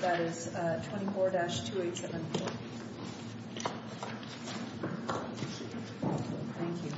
that is 24-2874. Thank you.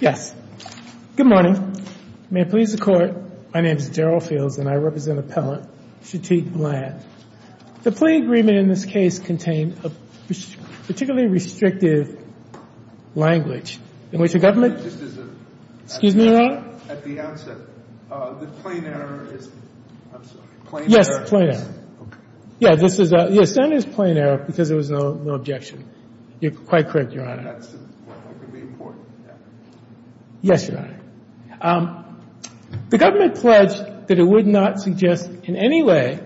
Yes. Good morning. May it please the Court, my name is Daryl Fields and I represent appellant Shateek Bland. The plea agreement in this case contained a particularly restrictive language in which the government. Excuse me, Your Honor. At the outset, the plain error is, I'm sorry, plain error. Yes, plain error. Okay. Yeah, this is a, yes, it is plain error because there was no objection. You're quite correct, Your Honor. That's, that can be important, yeah. Yes, Your Honor. The government pledged that it would not suggest in any way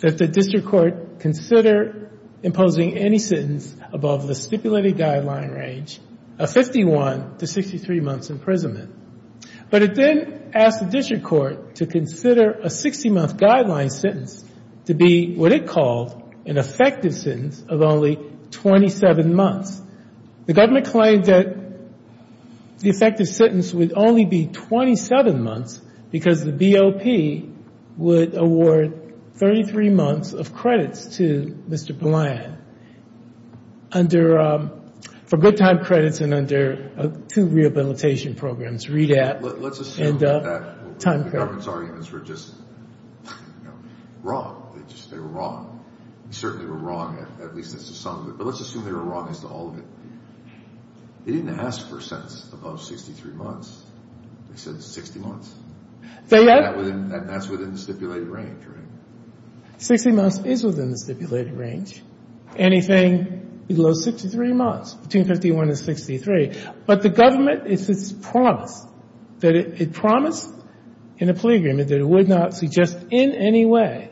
that the district court consider imposing any sentence above the stipulated guideline range of 51 to 63 months imprisonment. But it then asked the district court to consider a 60-month guideline sentence to be what it called an effective sentence of only 27 months. The government claimed that the effective sentence would only be 27 months because the BOP would award 33 months of credits to Mr. Bland under, for good time credits and under two rehabilitation programs, READAPT and Time Credit. Let's assume that the government's arguments were just wrong. They just, they were wrong. They certainly were wrong, at least that's the sum of it. But let's assume they were wrong as to all of it. They didn't ask for a sentence above 63 months. They said 60 months. So yes. And that's within the stipulated range, right? 60 months is within the stipulated range. Anything below 63 months, between 51 and 63. But the government, it's promised, that it promised in a plea agreement that it would not suggest in any way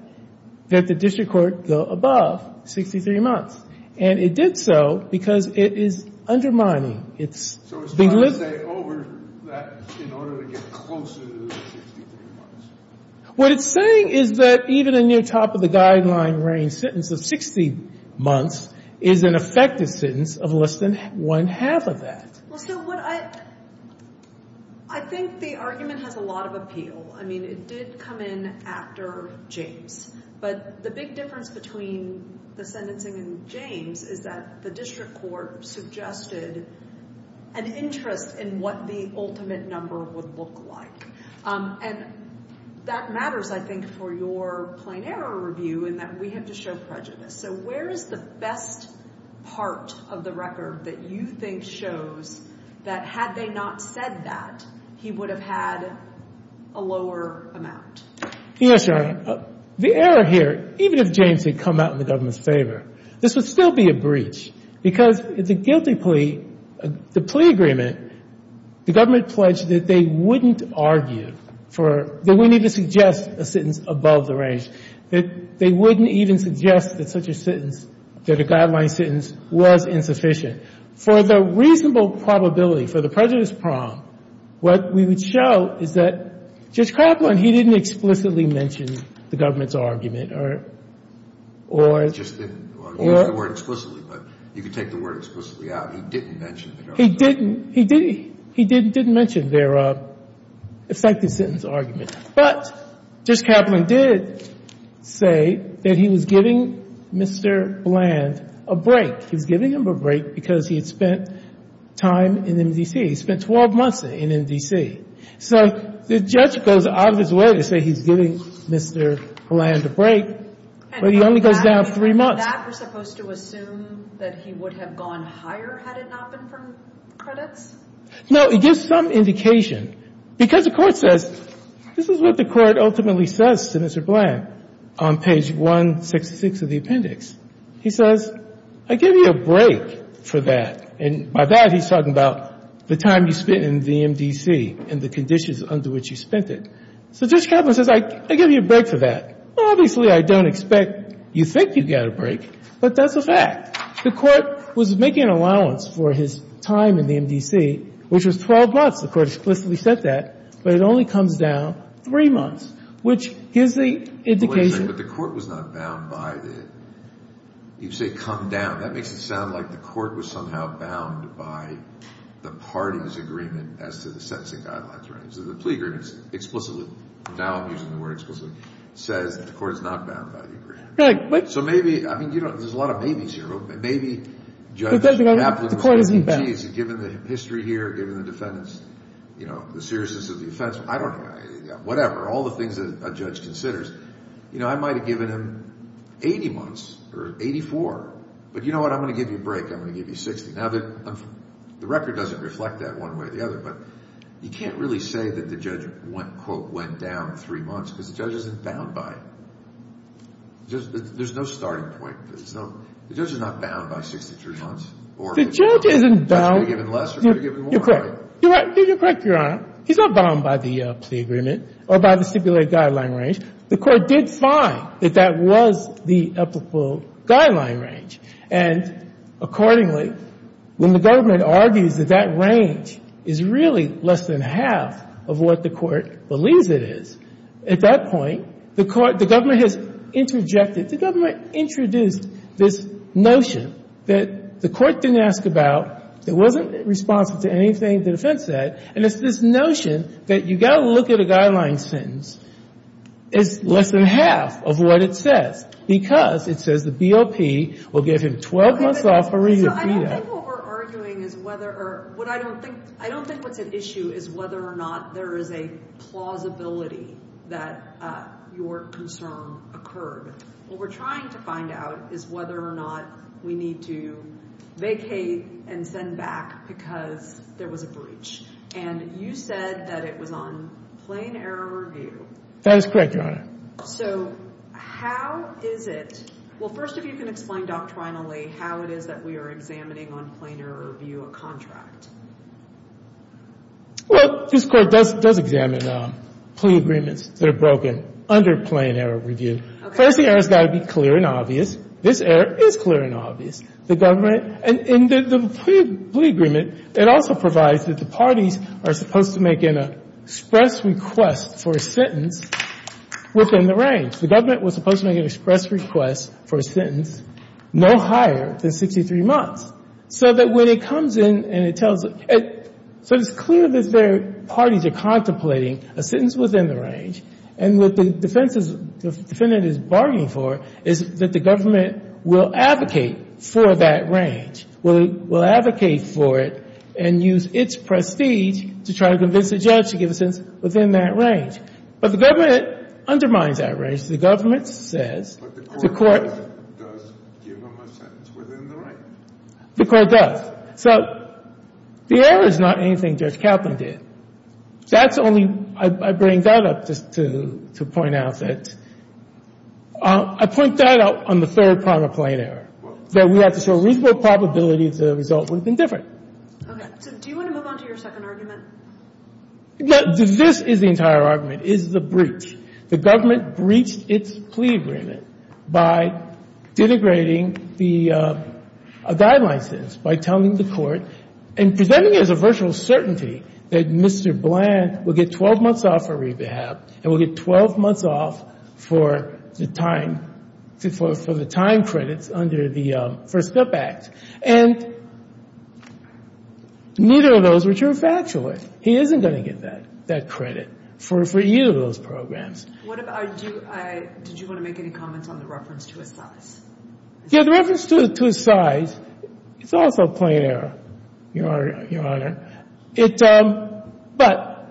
that the district court go above 63 months. And it did so because it is undermining, it's being lived. So it's trying to stay over that in order to get closer to the 63 months? What it's saying is that even a near top of the guideline range sentence of 60 months is an effective sentence of less than one half of that. Well, so what I, I think the argument has a lot of appeal. I mean it did come in after James. But the big difference between the sentencing and James is that the district court suggested an interest in what the ultimate number would look like. And that matters, I think, for your plain error review in that we have to show prejudice. So where is the best part of the record that you think shows that had they not said that, he would have had a lower amount? Yes, Your Honor. The error here, even if James had come out in the government's favor, this would still be a breach. Because the guilty plea, the plea agreement, the government pledged that they wouldn't argue for, that we need to suggest a sentence above the range, that they wouldn't even suggest that such a sentence, that a guideline sentence was insufficient. For the reasonable probability, for the prejudice prong, what we would show is that Judge Kraplan, he didn't explicitly mention the government's argument or, or He just didn't. Well, he used the word explicitly, but you could take the word explicitly out. He didn't mention it. He didn't. He didn't. He didn't mention their effective sentence argument. But Judge Kraplan did say that he was giving Mr. Bland a break. He was giving him a break because he had spent time in MDC. He spent 12 months in MDC. So the judge goes out of his way to say he's giving Mr. Bland a break, but he only goes down three months. Was that supposed to assume that he would have gone higher had it not been for credits? No. It gives some indication. Because the Court says, this is what the Court ultimately says to Mr. Bland on page 166 of the appendix. He says, I give you a break for that. And by that, he's talking about the time you spent in the MDC and the conditions under which you spent it. So Judge Kraplan says, I give you a break for that. Obviously, I don't expect you think you get a break, but that's a fact. The Court was making an allowance for his time in the MDC, which was 12 months. The Court explicitly said that, but it only comes down three months, which gives the indication. But the Court was not bound by the – you say come down. That makes it sound like the Court was somehow bound by the party's agreement as to the sentencing guidelines. So the plea agreement explicitly – now I'm using the word explicitly – says that the Court is not bound by the agreement. So maybe – I mean, there's a lot of maybes here. Maybe Judge Kraplan says, gee, given the history here, given the defendants, you know, the seriousness of the offense, I don't – whatever. All the things that a judge considers. You know, I might have given him 80 months or 84. But you know what? I'm going to give you a break. I'm going to give you 60. Now, the record doesn't reflect that one way or the other, but you can't really say that the judge, quote, went down three months because the judge isn't bound by it. There's no starting point. The judge is not bound by 63 months. The judge isn't bound. The judge could have given less or could have given more, right? You're correct, Your Honor. He's not bound by the plea agreement or by the stipulated guideline range. The Court did find that that was the applicable guideline range. And accordingly, when the government argues that that range is really less than half of what the Court believes it is, at that point, the Court – the government has interjected. The government introduced this notion that the Court didn't ask about. It wasn't responsive to anything the defense said. And it's this notion that you've got to look at a guideline sentence. It's less than half of what it says because it says the BOP will give him 12 months off a review. So I don't think what we're arguing is whether – or what I don't think – I don't think what's at issue is whether or not there is a plausibility that your concern occurred. What we're trying to find out is whether or not we need to vacate and send back because there was a breach. And you said that it was on plain error review. That is correct, Your Honor. So how is it – well, first, if you can explain doctrinally how it is that we are examining on plain error review a contract. Well, this Court does examine plea agreements that are broken under plain error review. First, the error's got to be clear and obvious. This error is clear and obvious. The government – and the plea agreement, it also provides that the parties are supposed to make an express request for a sentence within the range. The government was supposed to make an express request for a sentence no higher than 63 months. So that when it comes in and it tells – so it's clear that their parties are contemplating a sentence within the range. And what the defense is – the defendant is bargaining for is that the government will advocate for that range, will advocate for it and use its prestige to try to convince the judge to give a sentence within that range. But the government undermines that range. The government says – But the court does give them a sentence within the range. The court does. So the error is not anything Judge Kaplan did. That's only – I bring that up just to point out that – I point that out on the third part of plain error, that we have to show reasonable probability that the result would have been different. Okay. So do you want to move on to your second argument? This is the entire argument, is the breach. The government breached its plea agreement by denigrating the – a guideline sentence by telling the court and presenting it as a virtual certainty that Mr. Bland will get 12 months off of rehab and will get 12 months off for the time – for the time credits under the First Step Act. And neither of those were true, factually. He isn't going to get that credit for either of those programs. What about – do you – did you want to make any comments on the reference to his size? Yeah, the reference to his size is also plain error, Your Honor. It – but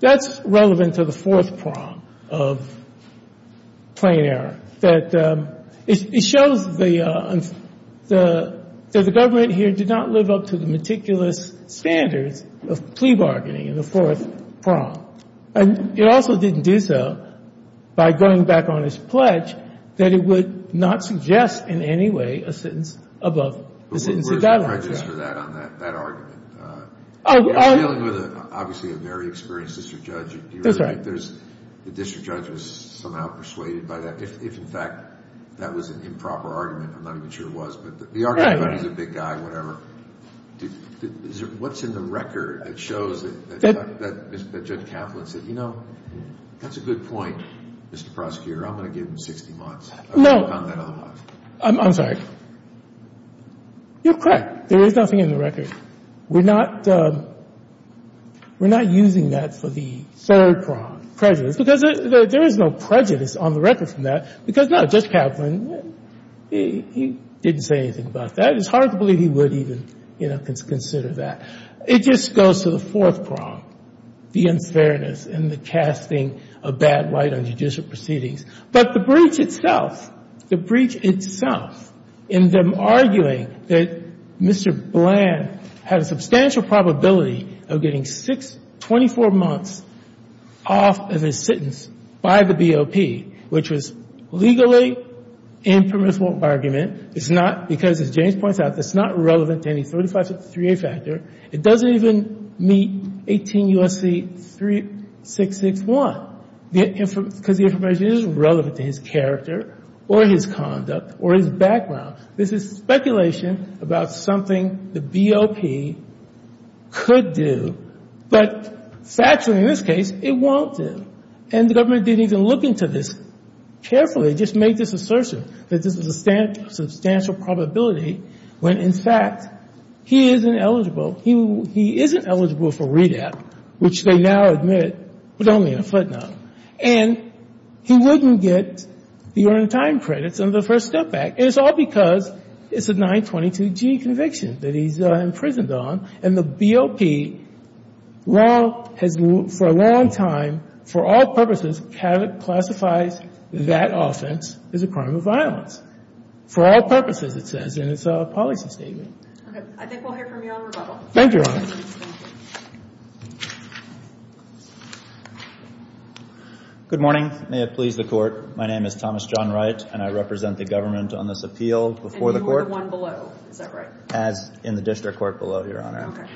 that's relevant to the fourth prong of plain error, that it shows the government here did not live up to the meticulous standards of plea bargaining in the fourth prong. And it also didn't do so by going back on his pledge that it would not suggest in any way a sentence above the sentencing guidelines. But where's the prejudice for that on that argument? You're dealing with, obviously, a very experienced district judge. That's right. The district judge was somehow persuaded by that. If, in fact, that was an improper argument, I'm not even sure it was. But the argument that he's a big guy, whatever, what's in the record that shows that Judge Kaplan said, you know, that's a good point, Mr. Prosecutor. I'm going to give him 60 months. No. I'm sorry. You're correct. There is nothing in the record. We're not – we're not using that for the third prong, prejudice, because there is no prejudice on the record from that because, no, Judge Kaplan, he didn't say anything about that. It's hard to believe he would even, you know, consider that. It just goes to the fourth prong, the unfairness and the casting a bad light on judicial proceedings. But the breach itself, the breach itself in them arguing that Mr. Bland had a substantial probability of getting six – 24 months off of his sentence by the BOP, which was legally impermissible argument. It's not because, as James points out, it's not relevant to any 3563A factor. It doesn't even meet 18 U.S.C. 3661 because the information isn't relevant to his character or his conduct or his background. This is speculation about something the BOP could do. But factually, in this case, it won't do. And the government didn't even look into this carefully. They just made this assertion that this is a substantial probability when, in fact, he isn't eligible. He isn't eligible for REDAP, which they now admit was only a footnote. And he wouldn't get the earned time credits under the First Step Act. And it's all because it's a 922G conviction that he's imprisoned on. And the BOP law has, for a long time, for all purposes, classified that offense as a crime of violence. For all purposes, it says in its policy statement. Okay. I think we'll hear from you on rebuttal. Thank you, Your Honor. Good morning. May it please the Court. My name is Thomas John Wright, and I represent the government on this appeal before the Court. And you were the one below. Is that right? As in the district court below, Your Honor. Okay.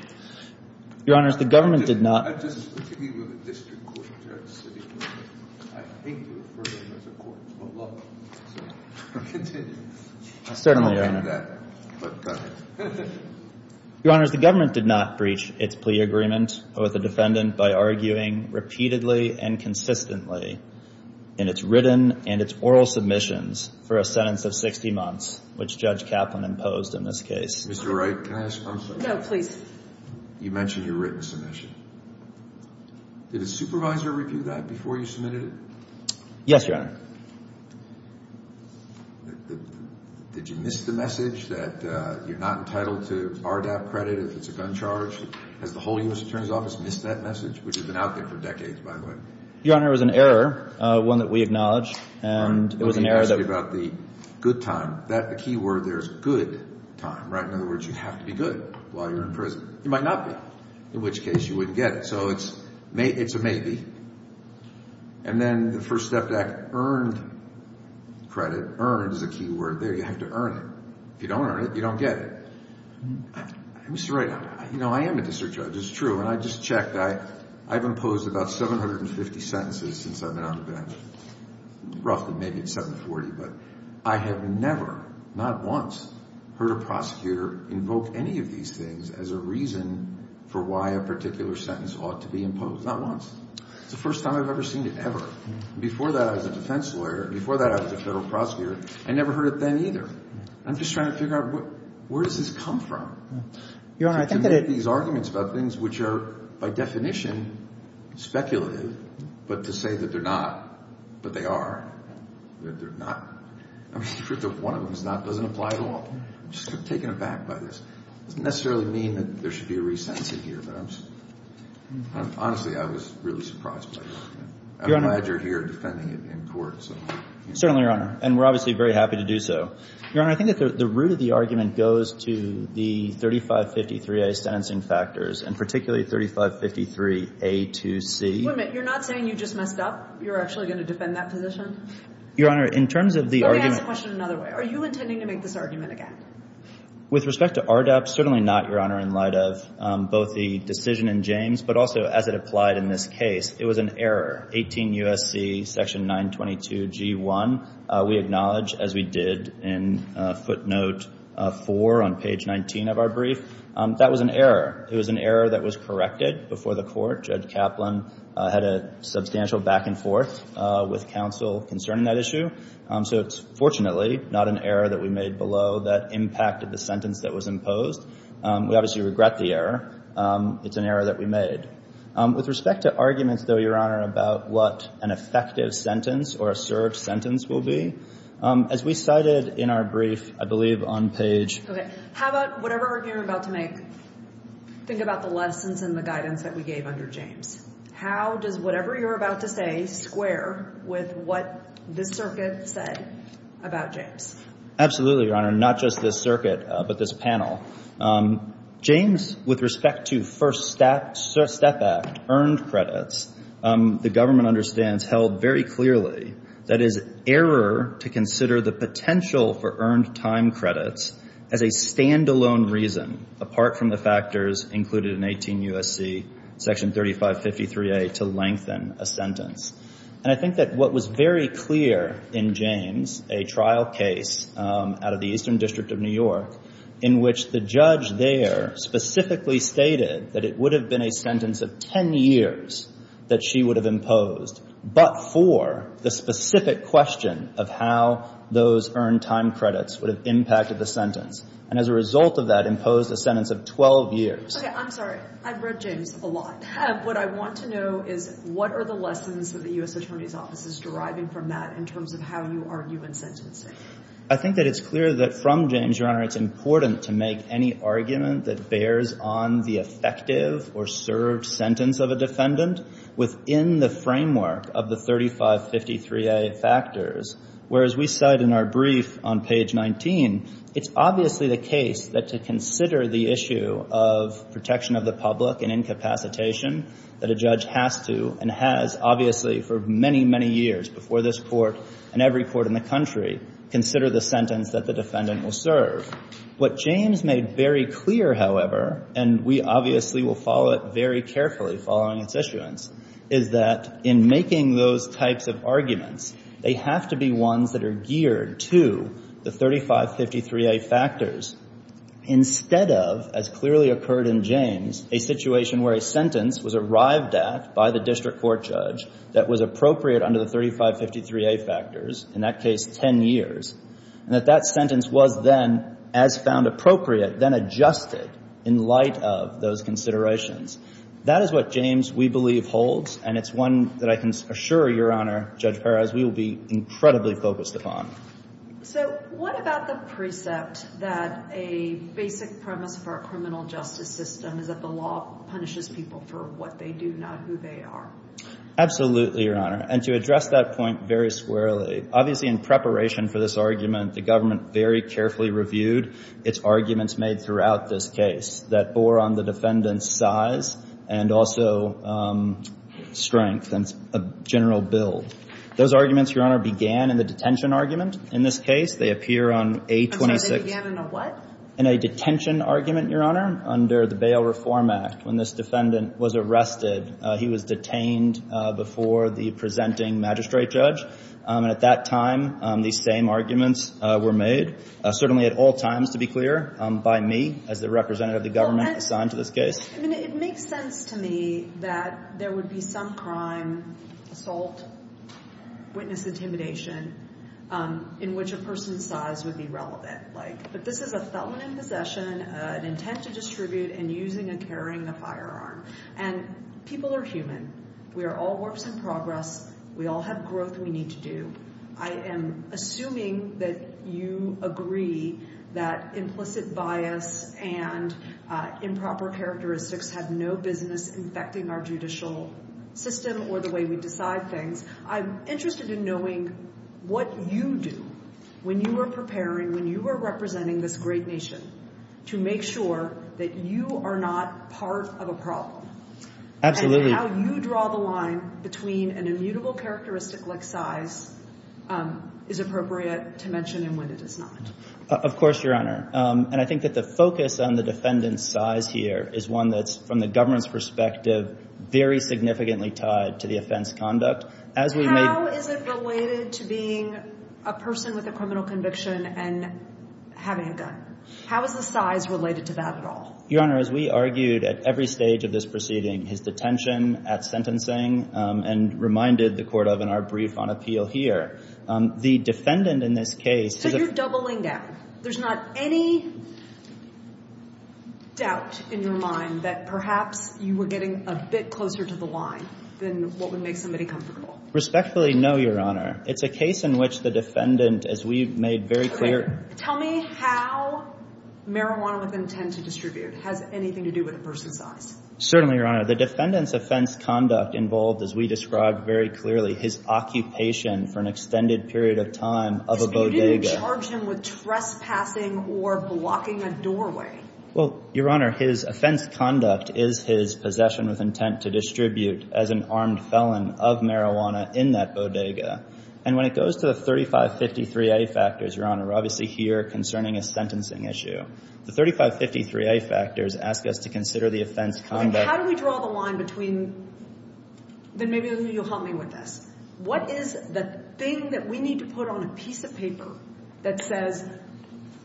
Your Honors, the government did not. I just want to be with the district court judge. I hate to refer to him as a court of law. So continue. Certainly, Your Honor. I don't mean that, but go ahead. Your Honors, the government did not breach its plea agreement with a defendant by arguing repeatedly and consistently in its written and its oral submissions for a sentence of 60 months, which Judge Kaplan imposed in this case. Mr. Wright, can I ask one thing? No, please. You mentioned your written submission. Did a supervisor review that before you submitted it? Yes, Your Honor. Did you miss the message that you're not entitled to RDAP credit if it's a gun charge? Has the whole U.S. Attorney's Office missed that message, which has been out there for decades, by the way? Your Honor, it was an error, one that we acknowledge. Let me ask you about the good time. The key word there is good time, right? In other words, you have to be good while you're in prison. You might not be, in which case you wouldn't get it. So it's a maybe. And then the First Step Act earned credit. Earned is a key word there. You have to earn it. If you don't earn it, you don't get it. Mr. Wright, you know, I am a district judge. It's true. And I just checked. I've imposed about 750 sentences since I've been on the bench. Roughly. Maybe it's 740. But I have never, not once, heard a prosecutor invoke any of these things as a reason for why a particular sentence ought to be imposed. Not once. It's the first time I've ever seen it, ever. Before that, I was a defense lawyer. Before that, I was a federal prosecutor. I never heard it then either. I'm just trying to figure out where does this come from? Your Honor, I think that it To make these arguments about things which are, by definition, speculative, but to say that they're not, but they are, that they're not. I mean, the truth of one of them is not, doesn't apply to all. I'm just taken aback by this. It doesn't necessarily mean that there should be a resentencing here. But I'm honestly, I was really surprised by the argument. I'm glad you're here defending it in court. Certainly, Your Honor. And we're obviously very happy to do so. Your Honor, I think that the root of the argument goes to the 3553A sentencing factors, and particularly 3553A2C. Wait a minute. You're not saying you just messed up? You're actually going to defend that position? Your Honor, in terms of the argument Let me ask the question another way. Are you intending to make this argument again? With respect to RDAP, certainly not, Your Honor, in light of both the decision in James, but also as it applied in this case. It was an error. 18 U.S.C. section 922G1. We acknowledge, as we did in footnote 4 on page 19 of our brief, that was an error. It was an error that was corrected before the court. Judge Kaplan had a substantial back and forth with counsel concerning that issue. So it's fortunately not an error that we made below that impacted the sentence that was imposed. We obviously regret the error. It's an error that we made. With respect to arguments, though, Your Honor, about what an effective sentence or a served sentence will be, as we cited in our brief, I believe, on page How about whatever argument you're about to make, think about the lessons and the guidance that we gave under James. How does whatever you're about to say square with what this circuit said about James? Absolutely, Your Honor. Not just this circuit, but this panel. James, with respect to First Step Act earned credits, the government understands held very clearly that it is error to consider the potential for earned time credits as a standalone reason apart from the factors included in 18 U.S.C. section 3553A to lengthen a sentence. And I think that what was very clear in James, a trial case out of the Eastern District of New York, in which the judge there specifically stated that it would have been a sentence of 10 years that she would have imposed, but for the specific question of how those earned time credits would have impacted the sentence. And as a result of that, imposed a sentence of 12 years. Okay, I'm sorry. I've read James a lot. What I want to know is what are the lessons that the U.S. Attorney's Office is deriving from that in terms of how you argue in sentencing? I think that it's clear that from James, Your Honor, it's important to make any argument that bears on the effective or served sentence of a defendant within the framework of the 3553A factors. Whereas we cite in our brief on page 19, it's obviously the case that to consider the issue of protection of the public and incapacitation that a judge has to and has obviously for many, many years before this court and every court in the country, consider the sentence that the defendant will serve. What James made very clear, however, and we obviously will follow it very carefully following its issuance, is that in making those types of arguments, they have to be ones that are geared to the 3553A factors instead of, as clearly occurred in James, a situation where a sentence was arrived at by the district court judge that was appropriate under the 3553A factors, in that case 10 years, and that that sentence was then, as found appropriate, then adjusted in light of those considerations. That is what James, we believe, holds, and it's one that I can assure, Your Honor, Judge Perez, we will be incredibly focused upon. So what about the precept that a basic premise for a criminal justice system is that the law punishes people for what they do, not who they are? Absolutely, Your Honor. And to address that point very squarely, obviously in preparation for this argument, the government very carefully reviewed its arguments made throughout this case that bore on the defendant's size and also strength and general build. Those arguments, Your Honor, began in the detention argument. In this case, they appear on A26. I'm sorry, they began in a what? In a detention argument, Your Honor, under the Bail Reform Act. When this defendant was arrested, he was detained before the presenting magistrate judge, and at that time, these same arguments were made, certainly at all times, to be clear, by me, as the representative of the government assigned to this case. It makes sense to me that there would be some crime, assault, witness intimidation, in which a person's size would be relevant. But this is a felon in possession, an intent to distribute, and using and carrying a firearm. And people are human. We are all works in progress. We all have growth we need to do. I am assuming that you agree that implicit bias and improper characteristics have no business infecting our judicial system or the way we decide things. I'm interested in knowing what you do when you are preparing, when you are representing this great nation, to make sure that you are not part of a problem. Absolutely. How you draw the line between an immutable characteristic like size is appropriate to mention and when it is not. Of course, Your Honor. And I think that the focus on the defendant's size here is one that's from the government's perspective very significantly tied to the offense conduct. How is it related to being a person with a criminal conviction and having a gun? How is the size related to that at all? Your Honor, as we argued at every stage of this proceeding, his detention, at sentencing, and reminded the court of in our brief on appeal here, the defendant in this case- So you're doubling down. There's not any doubt in your mind that perhaps you were getting a bit closer to the line than what would make somebody comfortable. Respectfully, no, Your Honor. It's a case in which the defendant, as we've made very clear- Tell me how marijuana with intent to distribute has anything to do with a person's size. Certainly, Your Honor. The defendant's offense conduct involved, as we described very clearly, his occupation for an extended period of time of a bodega. But you didn't charge him with trespassing or blocking a doorway. Well, Your Honor, his offense conduct is his possession with intent to distribute as an armed felon of marijuana in that bodega. And when it goes to the 3553A factors, Your Honor, obviously here concerning a sentencing issue, the 3553A factors ask us to consider the offense conduct- How do we draw the line between- Then maybe you'll help me with this. What is the thing that we need to put on a piece of paper that says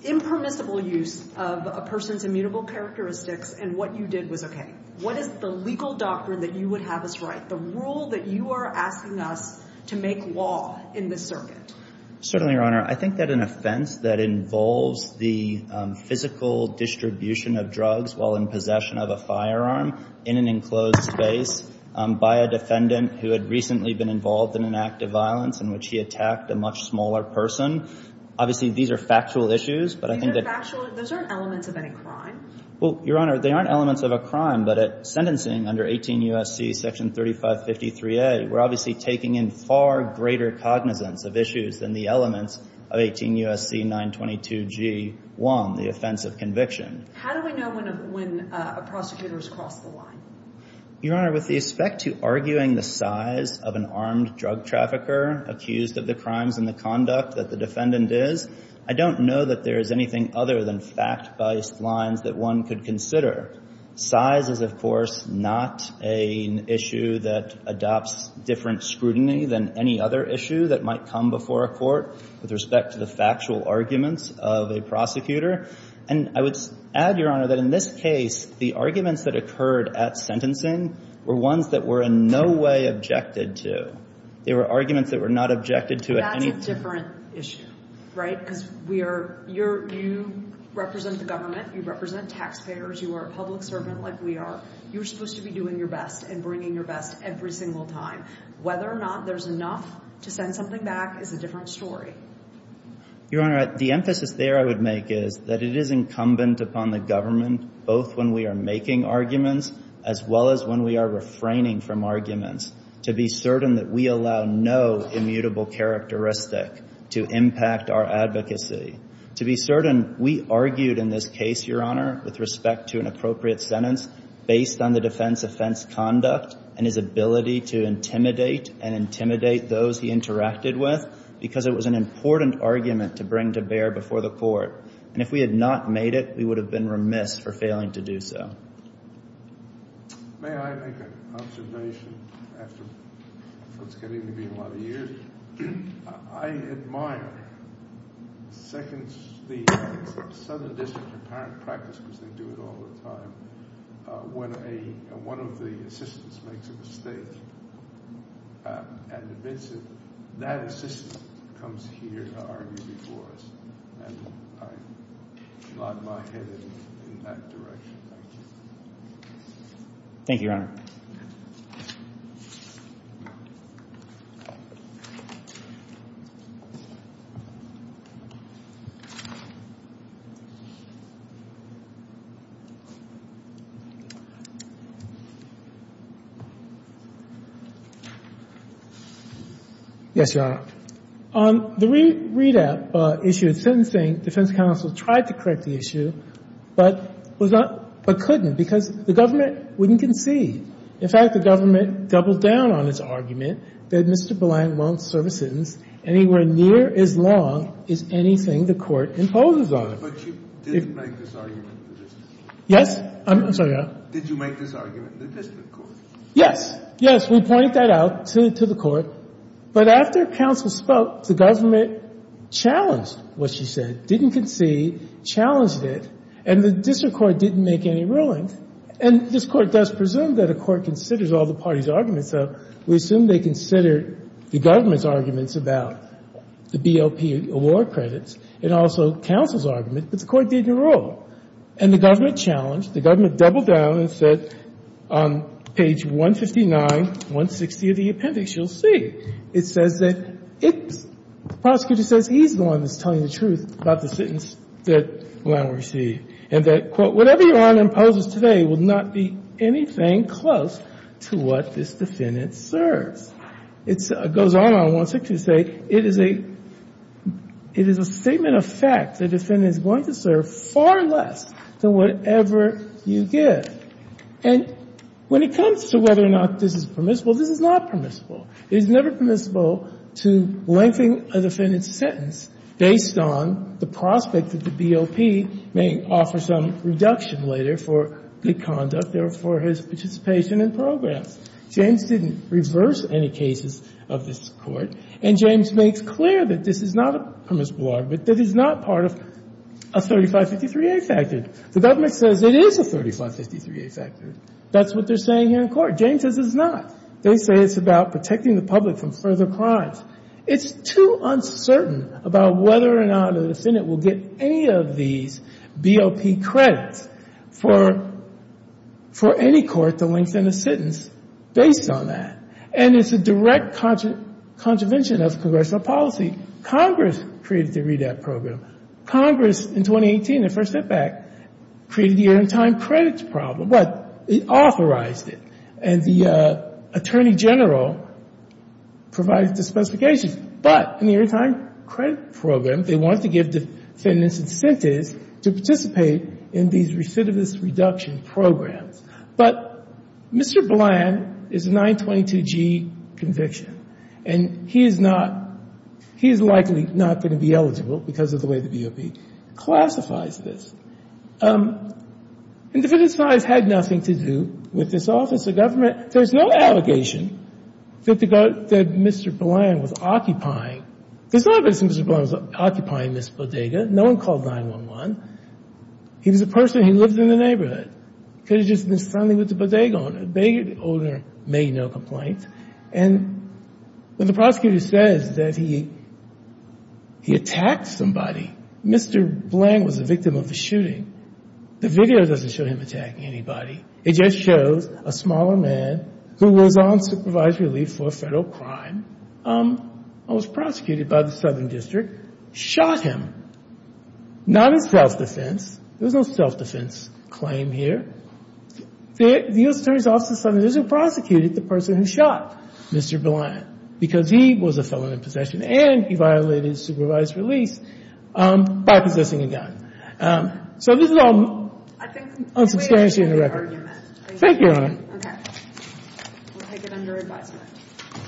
impermissible use of a person's immutable characteristics and what you did was okay? What is the legal doctrine that you would have us write, the rule that you are asking us to make law in this circuit? Certainly, Your Honor. I think that an offense that involves the physical distribution of drugs while in possession of a firearm in an enclosed space by a defendant who had recently been involved in an act of violence in which he attacked a much smaller person, obviously these are factual issues, but I think that- These are factual. Those aren't elements of any crime. Well, Your Honor, they aren't elements of a crime, but at sentencing under 18 U.S.C. section 3553A, we're obviously taking in far greater cognizance of issues than the elements of 18 U.S.C. 922G1, the offense of conviction. How do we know when a prosecutor has crossed the line? Your Honor, with respect to arguing the size of an armed drug trafficker accused of the crimes and the conduct that the defendant is, I don't know that there is anything other than fact-based lines that one could consider. Size is, of course, not an issue that adopts different scrutiny than any other issue that might come before a court with respect to the factual arguments of a prosecutor. And I would add, Your Honor, that in this case, the arguments that occurred at sentencing were ones that were in no way objected to. They were arguments that were not objected to at any point. That's a different issue, right? Because you represent the government, you represent taxpayers, you are a public servant like we are. You're supposed to be doing your best and bringing your best every single time. Whether or not there's enough to send something back is a different story. Your Honor, the emphasis there I would make is that it is incumbent upon the government, both when we are making arguments as well as when we are refraining from arguments, to be certain that we allow no immutable characteristic to impact our advocacy, to be certain we argued in this case, Your Honor, with respect to an appropriate sentence based on the defense offense conduct and his ability to intimidate and intimidate those he interacted with because it was an important argument to bring to bear before the court. And if we had not made it, we would have been remiss for failing to do so. May I make an observation after what's getting to be a lot of years? I admire the Southern District's apparent practice, because they do it all the time, when one of the assistants makes a mistake and admits it, that assistant comes here to argue before us. And I nod my head in that direction. Thank you, Your Honor. Yes, Your Honor. On the readout issue of sentencing, defense counsel tried to correct the issue, but couldn't, because the government wouldn't concede. In fact, the government doubled down on its argument that Mr. Belang won't serve his sentence anywhere near as long as anything the court imposes on him. But you didn't make this argument in the district court. Yes. I'm sorry, Your Honor. Did you make this argument in the district court? Yes. Yes, we pointed that out to the court. But after counsel spoke, the government challenged what she said, didn't concede, challenged it, and the district court didn't make any rulings. And this court does presume that a court considers all the parties' arguments, and so we assume they considered the government's arguments about the BLP award credits and also counsel's argument, but the court didn't rule. And the government challenged, the government doubled down and said, on page 159, 160 of the appendix, you'll see, it says that it's, the prosecutor says he's the one that's telling the truth about the sentence that Belang received, and that, quote, Whatever Your Honor imposes today will not be anything close to what this defendant serves. It goes on on 162 to say, it is a statement of fact the defendant is going to serve far less than whatever you give. And when it comes to whether or not this is permissible, this is not permissible. It is never permissible to lengthen a defendant's sentence based on the prospect that the BLP may offer some reduction later for good conduct or for his participation in programs. James didn't reverse any cases of this court, and James makes clear that this is not a permissible argument, that it is not part of a 3553A factor. The government says it is a 3553A factor. That's what they're saying here in court. James says it's not. They say it's about protecting the public from further crimes. It's too uncertain about whether or not a defendant will get any of these BLP credits for any court to lengthen a sentence based on that. And it's a direct contravention of congressional policy. Congress created the REDAP program. Congress, in 2018, the first step back, created the year-on-time credits problem, but it authorized it. And the Attorney General provided the specifications. But in the year-on-time credit program, they want to give defendants incentives to participate in these recidivist reduction programs. But Mr. Bland is a 922G conviction, and he is not he is likely not going to be eligible because of the way the BLP classifies this. And defendants' lives had nothing to do with this office of government. There's no allegation that Mr. Bland was occupying. There's no evidence that Mr. Bland was occupying this bodega. No one called 911. He was a person who lived in the neighborhood. He could have just been friendly with the bodega owner. The bodega owner made no complaint. And when the prosecutor says that he attacked somebody, Mr. Bland was a victim of a shooting. The video doesn't show him attacking anybody. It just shows a smaller man who was on supervisory leave for a federal crime and was prosecuted by the Southern District, shot him. Not in self-defense. There's no self-defense claim here. The U.S. Attorney's Office of the Southern District prosecuted the person who shot Mr. Bland because he was a felon in possession, and he violated supervised release by possessing a gun. So this is all unsubstantiated in the record. Thank you, Your Honor.